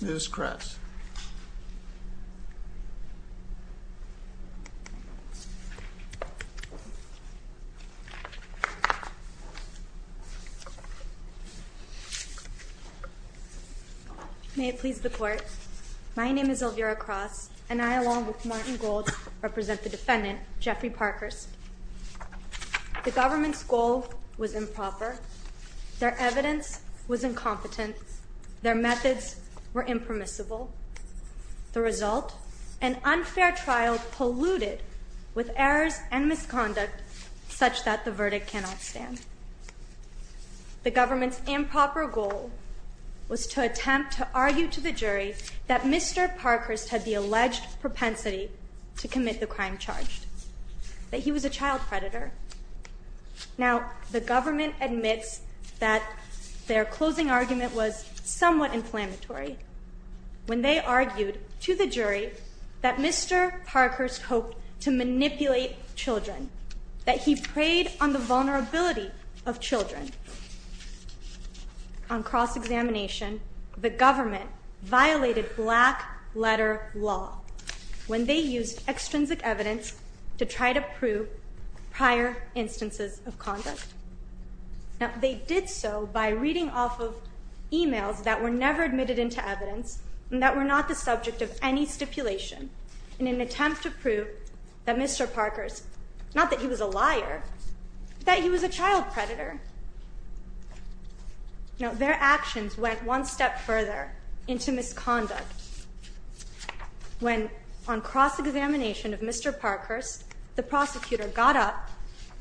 Ms. Kress. May it please the Court, my name is Elvira Kross, and I, along with Martin Gold, represent the defendant, Jeffrey Parkhurst. The government's goal was improper. Their evidence was incompetent. Their methods were impermissible. The result? An unfair trial polluted with errors and misconduct such that the verdict cannot stand. The government's improper goal was to attempt to argue to the jury that Mr. Parkhurst had the alleged propensity to commit the crime charged. That he was a child predator. Now, the government admits that their closing argument was somewhat inflammatory when they argued to the jury that Mr. Parkhurst hoped to manipulate children. That he preyed on the vulnerability of children. On cross-examination, the government violated black letter law when they used extrinsic evidence to try to prove prior instances of conduct. Now, they did so by reading off of emails that were never admitted into evidence and that were not the subject of any stipulation in an attempt to prove that Mr. Parkhurst, not that he was a liar, but that he was a child predator. Now, their actions went one step further into misconduct when on cross-examination of Mr. Parkhurst, the prosecutor got up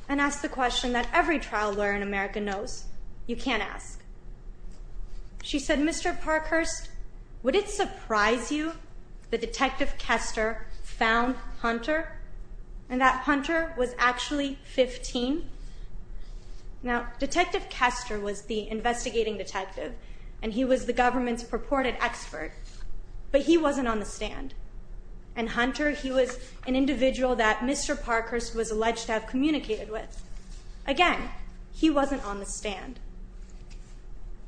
and asked the question that every trial lawyer in America knows, you can't ask. She said, Mr. Parkhurst, would it surprise you that Detective Kester found Hunter and that Hunter was actually 15? Now, Detective Kester was the investigating detective and he was the government's purported expert but he wasn't on the stand. And Hunter, he was an individual that Mr. Parkhurst was alleged to have communicated with. Again, he wasn't on the stand.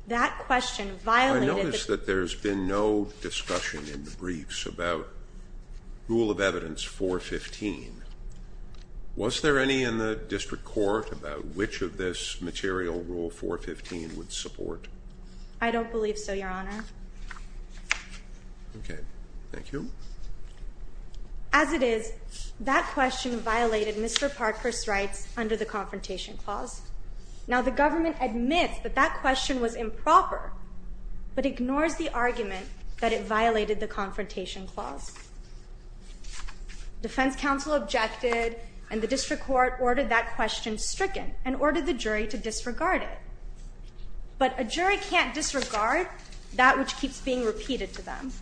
That question violated the... I notice that there's been no discussion in the briefs about Rule of Evidence 415. Was there any in the District Court about which of this material Rule 415 would support? I don't believe so, Your Honor. Okay. Thank you. As it is, that question violated Mr. Parkhurst's rights under the Confrontation Clause. Now, the government admits that that question was improper, but ignores the argument that it violated the Confrontation Clause. Defense counsel objected and the District Court ordered that question stricken and ordered the jury to disregard it. But a jury can't disregard that which keeps being repeated to them.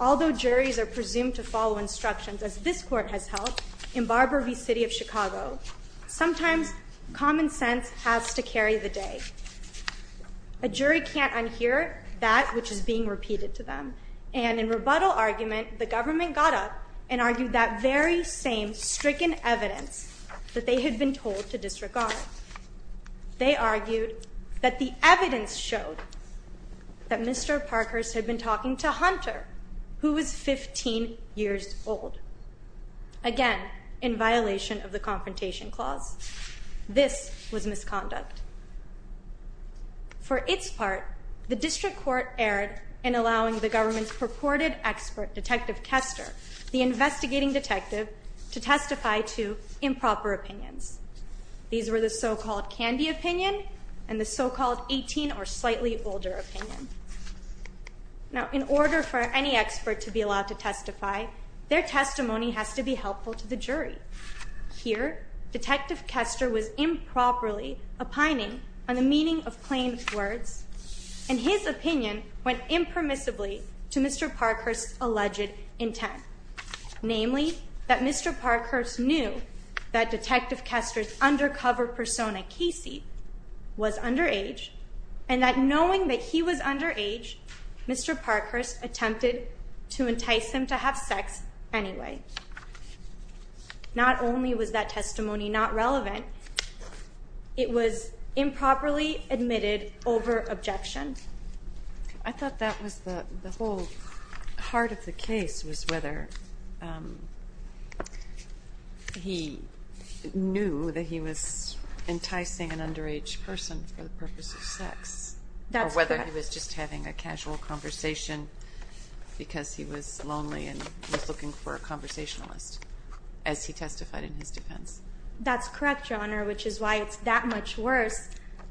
Although juries are presumed to follow instructions, as this Court has held in Barber v. City of Chicago, sometimes common sense has to carry the day. A jury can't unhear that which is being repeated to them. And in rebuttal argument, the government got up and argued that very same stricken evidence that they had been told to disregard. They argued that the evidence showed that Mr. Parkhurst had been talking to Hunter, who was 15 years old. Again, in violation of the Confrontation Clause. This was misconduct. For its part, the District Court erred in allowing the government's purported expert, Detective Kester, the investigating detective, to testify to improper opinions. These were the so-called candy opinion and the so-called 18 or slightly older opinion. Now, in order for any expert to be allowed to testify, their testimony has to be helpful to the jury. Here, Detective Kester was improperly opining on the meaning of plain words and his opinion went impermissibly to Mr. Parkhurst's alleged intent. Namely, that Mr. Parkhurst knew that Detective Kester's undercover persona, Casey, was underage and that knowing that he was underage, Mr. Parkhurst attempted to entice him to have sex anyway. Not only was that testimony not relevant, it was improperly admitted over objection. I thought that was the whole heart of the case was whether he knew that he was enticing an underage person for the purpose of sex. That's correct. Or whether he was just having a casual conversation because he was lonely and was looking for a conversationalist, as he testified in his defense. That's correct, Your Honor, which is why it's that much worse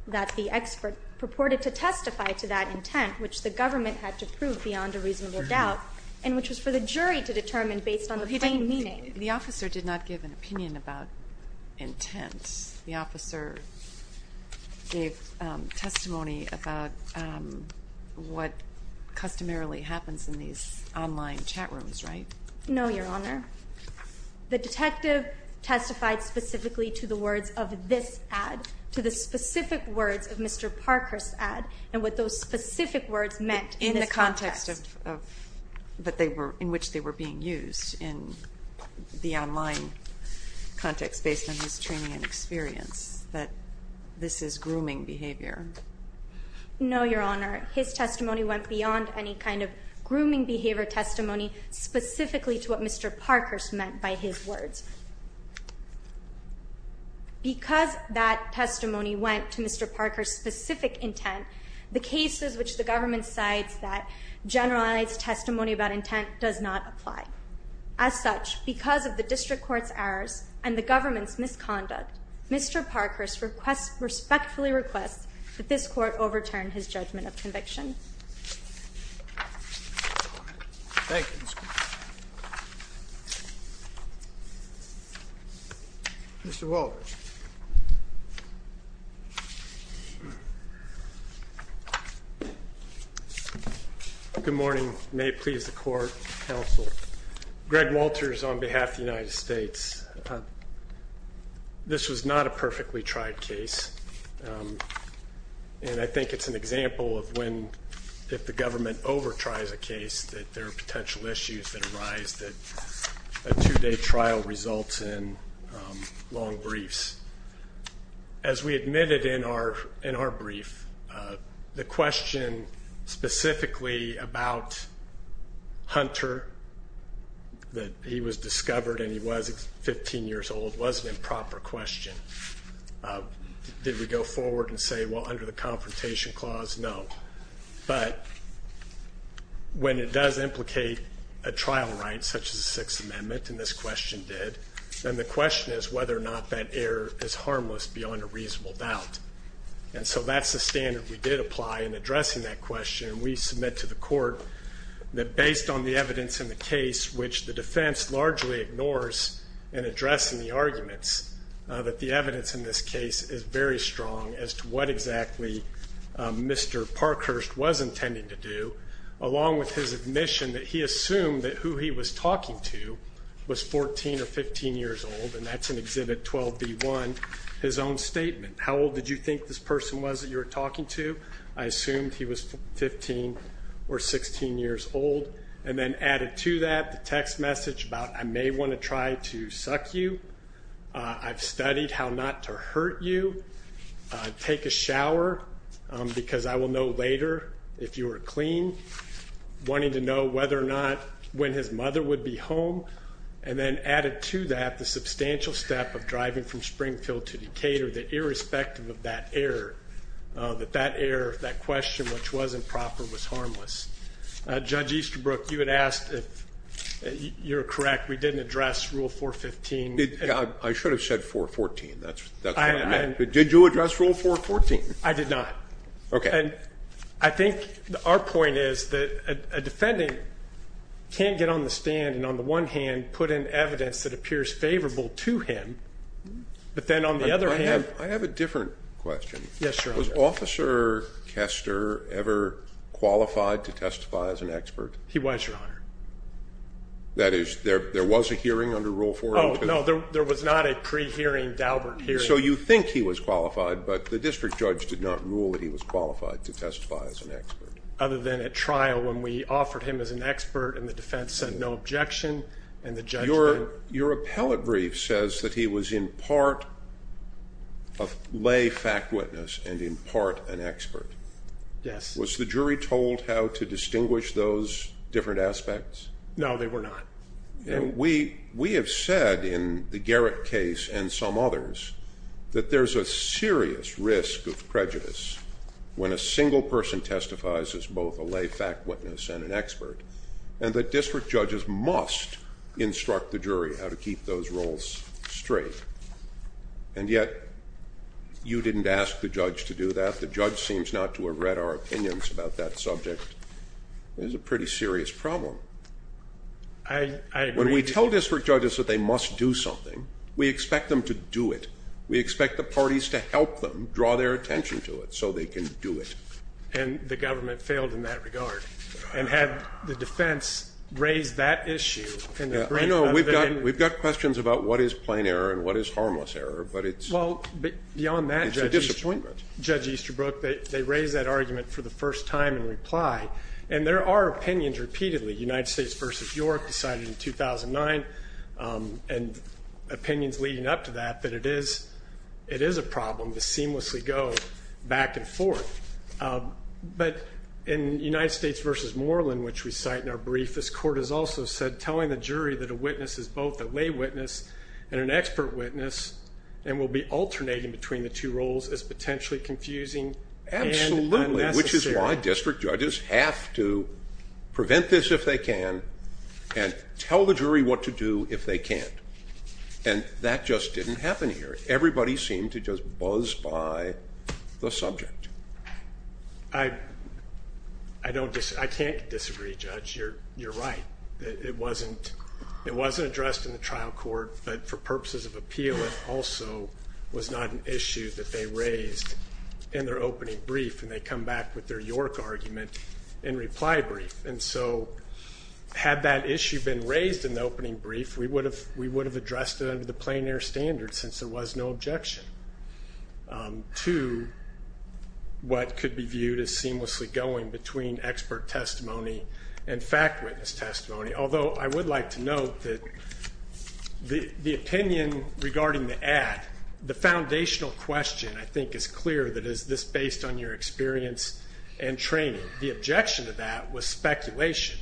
that the expert purported to testify to that intent, which the government had to prove beyond a reasonable doubt, and which was for the jury to determine based on the plain meaning. The officer did not give an opinion about intent. The officer gave testimony about what customarily happens in these online chat rooms, right? No, Your Honor. The detective testified specifically to the words of this ad, to the specific words of Mr. Parkhurst's ad, and what those specific words meant in this context. In the context of, that they were, in which they were being used, in the online context based on his training and experience, that this is grooming behavior. No, Your Honor. His testimony went beyond any kind of grooming behavior testimony, specifically to what Mr. Parkhurst meant by his words. Because that testimony went to Mr. Parkhurst's specific intent, the cases which the government cites that generalize testimony about intent does not apply. As such, because of the district court's errors and the government's misconduct, Mr. Parkhurst respectfully requests that this court overturn his judgment of conviction. Thank you, Ms. Cooper. Mr. Walters. Good morning. May it please the court, counsel. Greg Walters on behalf of the United States. This was not a perfectly tried case. And I think it's an example of when, if the government over-tries a case, that there are potential issues that arise, that a two-day trial results in long briefs. As we admitted in our brief, the question specifically about Hunter, that he was discovered and he was 15 years old, was an improper question. Did we go forward and say, well, under the confrontation clause, no. But when it does implicate a trial right, such as the Sixth Amendment, and this question did, then the question is whether or not that error is harmless beyond a reasonable doubt. And so that's the standard we did apply in addressing that question. And we submit to the court that based on the evidence in the case, which the defense largely ignores in addressing the arguments, that the evidence in this case is very strong as to what exactly Mr. Parkhurst was intending to do, along with his admission that he assumed that who he was talking to was 14 or 15 years old, and that's in Exhibit 12B1, his own statement. How old did you think this person was that you were talking to? I assumed he was 15 or 16 years old. And then added to that, the text message about I may want to try to suck you. I've studied how not to hurt you. Take a shower, because I will know later if you are clean. Wanting to know whether or not, when his mother would be home. And then added to that, the substantial step of driving from Springfield to Decatur, that irrespective of that error, that that error, that question, which wasn't proper, was harmless. Judge Easterbrook, you had asked, if you're correct, we didn't address Rule 415 I should have said 414, that's what I meant. Did you address Rule 414? I did not. Okay. I think our point is that a defendant can't get on the stand and, on the one hand, put in evidence that appears favorable to him, but then on the other hand I have a different question. Yes, Your Honor. Was Officer Kester ever qualified to testify as an expert? He was, Your Honor. That is, there was a hearing under Rule 414? Oh, no. There was not a pre-hearing, Daubert hearing. So you think he was qualified, but the district judge did not rule that he was qualified to testify as an expert. Other than at trial when we offered him as an expert and the defense said no objection and the judge said Your appellate brief says that he was in part a lay fact witness and in part an expert. Yes. Was the jury told how to distinguish those different aspects? No, they were not. We have said in the Garrett case and some others that there is a serious risk of prejudice when a single person testifies as both a lay fact witness and an expert and that district judges must instruct the jury how to keep those roles straight. And yet you didn't ask the judge to do that. The judge seems not to have read our opinions about that subject. It is a pretty serious problem. I agree. When we tell district judges that they must do something, we expect them to do it. We expect the parties to help them draw their attention to it so they can do it. And the government failed in that regard and had the defense raise that issue. I know. We've got questions about what is plain error and what is harmless error, but it's a disappointment. Well, beyond that, Judge Easterbrook, they raised that argument for the first time in reply, and there are opinions repeatedly, United States v. York decided in 2009 and opinions leading up to that that it is a problem to seamlessly go back and forth. But in United States v. Moreland, which we cite in our brief, this court has also said telling the jury that a witness is both a lay witness and an expert witness and will be alternating between the two roles is potentially confusing. Absolutely, which is why district judges have to prevent this if they can and tell the jury what to do if they can't. And that just didn't happen here. Everybody seemed to just buzz by the subject. I don't disagree. I can't disagree, Judge. You're right. It wasn't addressed in the trial court, but for purposes of appeal, it also was not an issue that they raised in their opening brief, and they come back with their York argument in reply brief. And so had that issue been raised in the opening brief, we would have addressed it under the plain error standard since there was no objection to what could be viewed as seamlessly going between expert testimony and fact witness testimony. Although I would like to note that the opinion regarding the ad, the foundational question I think is clear that is this based on your experience and training. The objection to that was speculation,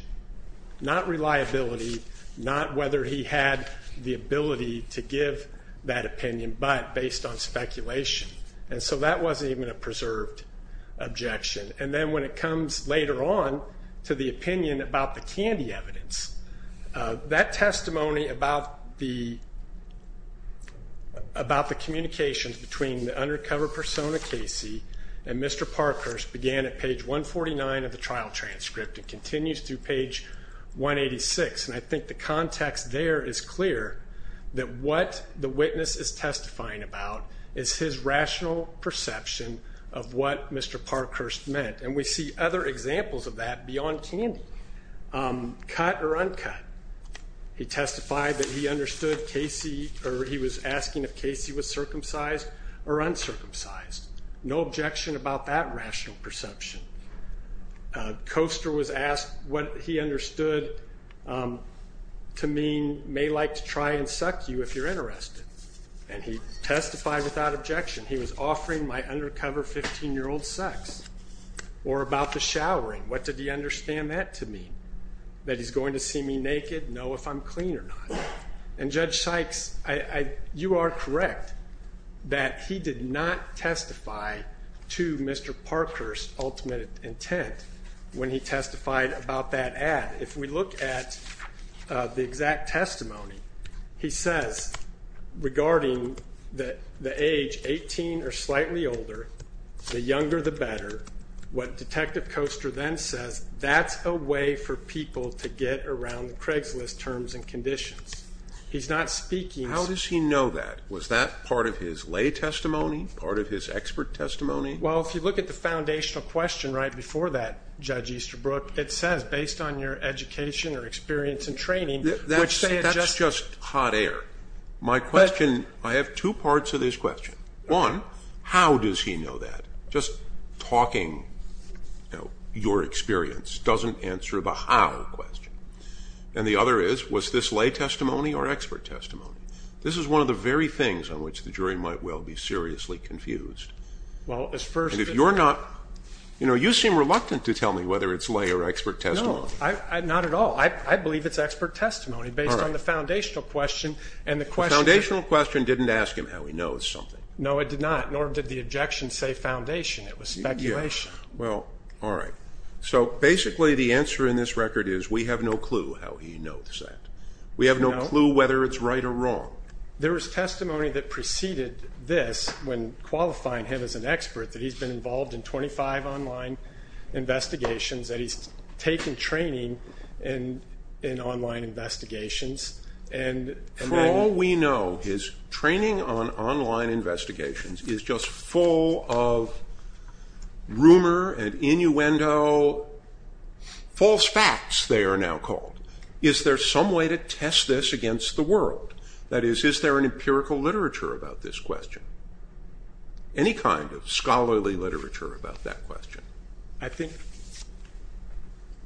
not reliability, not whether he had the ability to give that opinion, but based on speculation. And so that wasn't even a preserved objection. And then when it comes later on to the opinion about the candy evidence, that testimony about the communications between the undercover persona Casey and Mr. Parkhurst began at page 149 of the trial transcript and continues through page 186. And I think the context there is clear that what the witness is testifying about is his rational perception of what Mr. Parkhurst meant. And we see other examples of that beyond candy. Cut or uncut. He testified that he understood Casey or he was asking if Casey was circumcised or uncircumcised. No objection about that rational perception. Koester was asked what he understood to mean may like to try and suck you if you're interested. And he testified without objection. He was offering my undercover 15-year-old sex or about the showering. What did he understand that to mean? That he's going to see me naked, know if I'm clean or not. And Judge Sykes, you are correct that he did not testify to Mr. Parkhurst's ultimate intent when he testified about that ad. If we look at the exact testimony, he says regarding the age 18 or slightly older, the younger the better, what Detective Koester then says, that's a way for people to get around the Craigslist terms and conditions. He's not speaking. How does he know that? Was that part of his lay testimony, part of his expert testimony? Well, if you look at the foundational question right before that, Judge Easterbrook, it says, based on your education or experience in training, which they adjust. That's just hot air. My question, I have two parts of this question. One, how does he know that? Just talking, you know, your experience doesn't answer the how question. And the other is, was this lay testimony or expert testimony? This is one of the very things on which the jury might well be seriously confused. And if you're not, you know, you seem reluctant to tell me whether it's lay or expert testimony. No, not at all. I believe it's expert testimony based on the foundational question. The foundational question didn't ask him how he knows something. No, it did not, nor did the objection say foundation. It was speculation. Well, all right. So basically the answer in this record is we have no clue how he knows that. We have no clue whether it's right or wrong. There is testimony that preceded this when qualifying him as an expert, that he's been involved in 25 online investigations, that he's taken training in online investigations. For all we know, his training on online investigations is just full of rumor and innuendo. False facts, they are now called. Is there some way to test this against the world? That is, is there an empirical literature about this question? Any kind of scholarly literature about that question? I think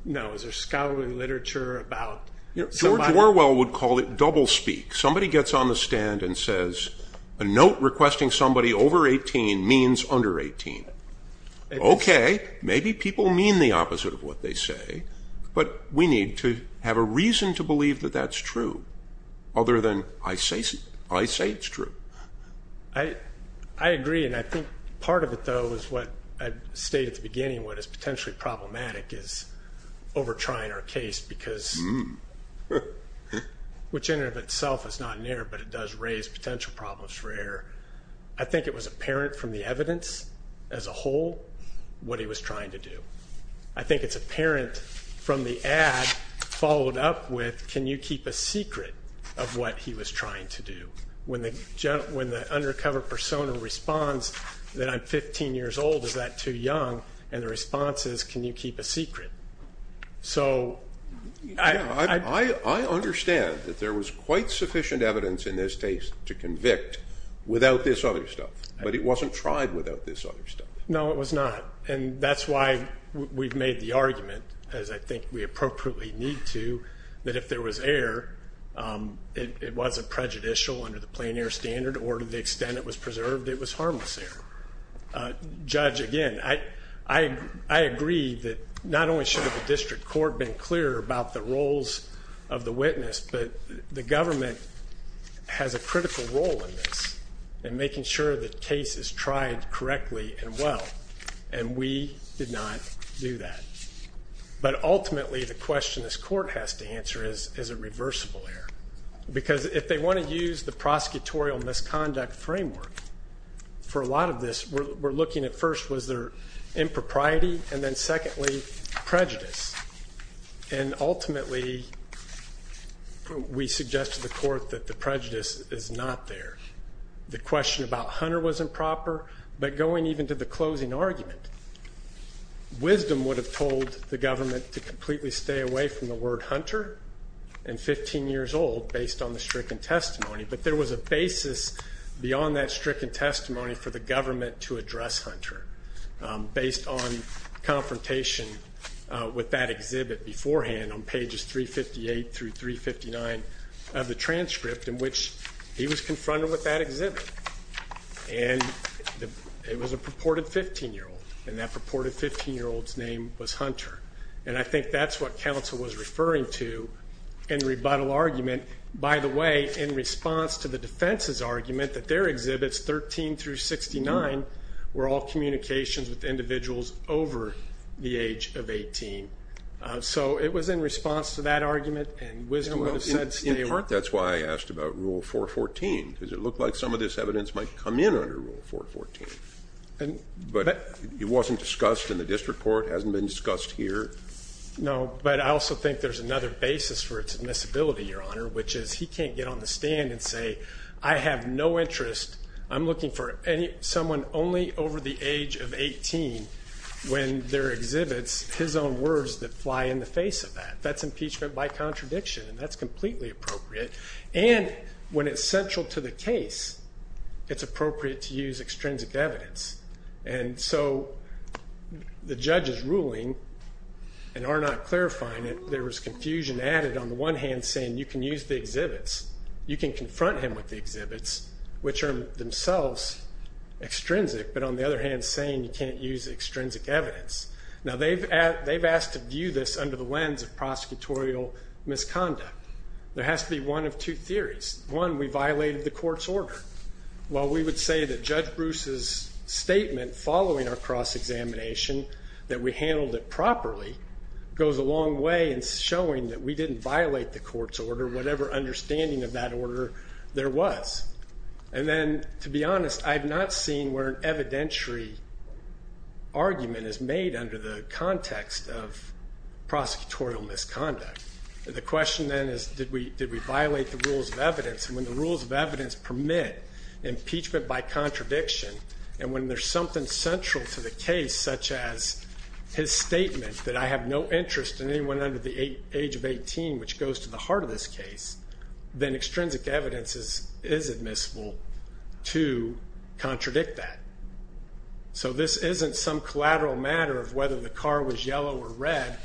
no. Is there scholarly literature about somebody? George Orwell would call it double speak. Somebody gets on the stand and says a note requesting somebody over 18 means under 18. Okay, maybe people mean the opposite of what they say, but we need to have a reason to believe that that's true other than I say it's true. I agree, and I think part of it, though, is what I stated at the beginning, what is potentially problematic is over trying our case, because which in and of itself is not an error, but it does raise potential problems for error. I think it was apparent from the evidence as a whole what he was trying to do. I think it's apparent from the ad followed up with, can you keep a secret of what he was trying to do? When the undercover persona responds that I'm 15 years old, is that too young? And the response is, can you keep a secret? I understand that there was quite sufficient evidence in this case to convict without this other stuff, but it wasn't tried without this other stuff. No, it was not. And that's why we've made the argument, as I think we appropriately need to, that if there was error, it wasn't prejudicial under the plain error standard, or to the extent it was preserved, it was harmless error. Judge, again, I agree that not only should the district court have been clear about the roles of the witness, but the government has a critical role in this in making sure the case is tried correctly and well, and we did not do that. But ultimately, the question this court has to answer is, is it reversible error? Because if they want to use the prosecutorial misconduct framework for a lot of this, we're looking at first, was there impropriety, and then secondly, prejudice. And ultimately, we suggest to the court that the prejudice is not there. The question about Hunter was improper, but going even to the closing argument, wisdom would have told the government to completely stay away from the word Hunter and 15 years old based on the stricken testimony, but there was a basis beyond that stricken testimony for the government to address Hunter, based on confrontation with that exhibit beforehand on pages 358 through 359 of the transcript in which he was confronted with that exhibit. And it was a purported 15-year-old, and that purported 15-year-old's name was Hunter. And I think that's what counsel was referring to in rebuttal argument. And by the way, in response to the defense's argument that their exhibits, 13 through 69, were all communications with individuals over the age of 18. So it was in response to that argument, and wisdom would have said stay away. In part, that's why I asked about Rule 414, because it looked like some of this evidence might come in under Rule 414. But it wasn't discussed in the district court, hasn't been discussed here. But I also think there's another basis for its admissibility, Your Honor, which is he can't get on the stand and say, I have no interest. I'm looking for someone only over the age of 18 when there are exhibits, his own words that fly in the face of that. That's impeachment by contradiction, and that's completely appropriate. And when it's central to the case, it's appropriate to use extrinsic evidence. And so the judge's ruling, and Arnott clarifying it, there was confusion added on the one hand saying you can use the exhibits, you can confront him with the exhibits, which are themselves extrinsic, but on the other hand saying you can't use extrinsic evidence. Now they've asked to view this under the lens of prosecutorial misconduct. There has to be one of two theories. One, we violated the court's order. Well, we would say that Judge Bruce's statement following our cross-examination that we handled it properly goes a long way in showing that we didn't violate the court's order, whatever understanding of that order there was. And then, to be honest, I've not seen where an evidentiary argument is made under the context of prosecutorial misconduct. And when the rules of evidence permit impeachment by contradiction, and when there's something central to the case, such as his statement that I have no interest in anyone under the age of 18, which goes to the heart of this case, then extrinsic evidence is admissible to contradict that. So this isn't some collateral matter of whether the car was yellow or red,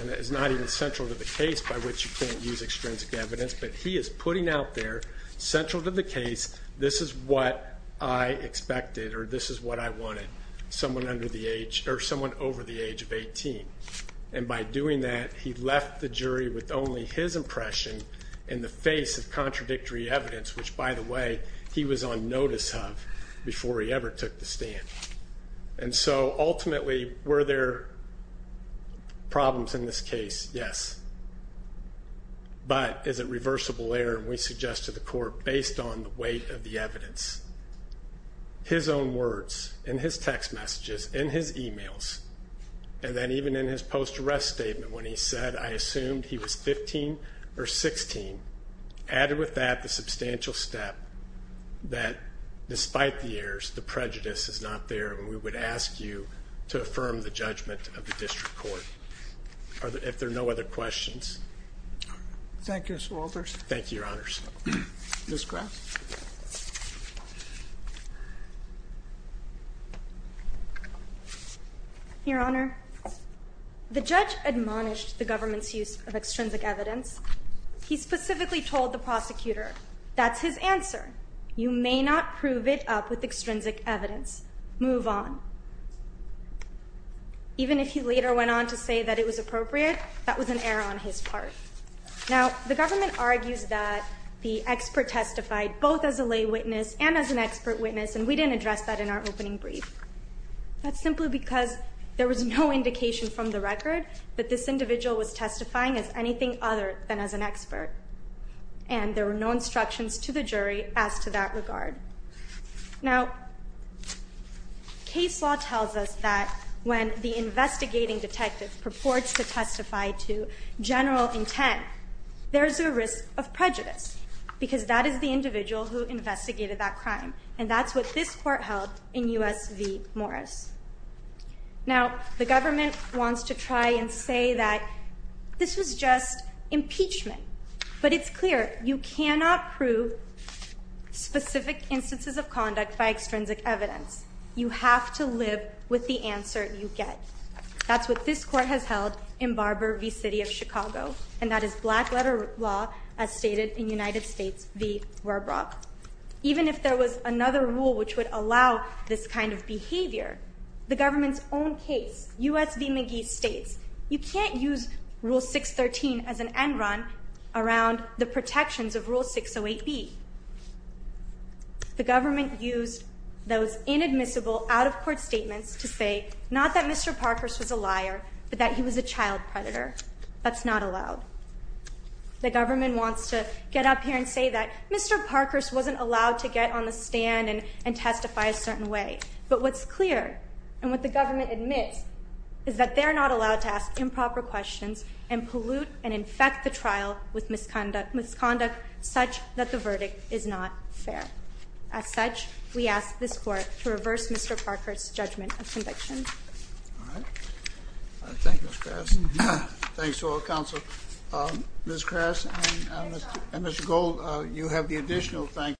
and it's not even central to the case by which you can't use extrinsic evidence, but he is putting out there, central to the case, this is what I expected or this is what I wanted, someone over the age of 18. And by doing that, he left the jury with only his impression in the face of contradictory evidence, which, by the way, he was on notice of before he ever took the stand. And so, ultimately, were there problems in this case? Yes. But is it reversible error, and we suggest to the court, based on the weight of the evidence, his own words in his text messages, in his e-mails, and then even in his post-arrest statement when he said, I assumed he was 15 or 16, added with that the substantial step that despite the errors, the prejudice is not there, and we would ask you to affirm the judgment of the district court. If there are no other questions. Thank you, Mr. Walters. Thank you, Your Honors. Ms. Kraft. Your Honor, the judge admonished the government's use of extrinsic evidence. He specifically told the prosecutor, that's his answer. You may not prove it up with extrinsic evidence. Move on. Even if he later went on to say that it was appropriate, that was an error on his part. Now, the government argues that the expert testified both as a lay witness and as an expert witness, and we didn't address that in our opening brief. That's simply because there was no indication from the record that this individual was testifying as anything other than as an expert. And there were no instructions to the jury as to that regard. Now, case law tells us that when the investigating detective purports to testify to general intent, there's a risk of prejudice, because that is the individual who investigated that crime, and that's what this court held in U.S. v. Morris. Now, the government wants to try and say that this was just impeachment, but it's clear you cannot prove specific instances of conduct by extrinsic evidence. You have to live with the answer you get. That's what this court has held in Barber v. City of Chicago, and that is black-letter law, as stated in United States v. Warbrock. Even if there was another rule which would allow this kind of behavior, the government's own case, U.S. v. McGee, states, you can't use Rule 613 as an end run around the protections of Rule 608B. The government used those inadmissible out-of-court statements to say, not that Mr. Parkhurst was a liar, but that he was a child predator. That's not allowed. The government wants to get up here and say that Mr. Parkhurst wasn't allowed to get on the stand and testify a certain way. But what's clear, and what the government admits, is that they're not allowed to ask improper questions and pollute and infect the trial with misconduct such that the verdict is not fair. As such, we ask this court to reverse Mr. Parkhurst's judgment of conviction. All right. Thank you, Ms. Kras. Thanks to all the counsel.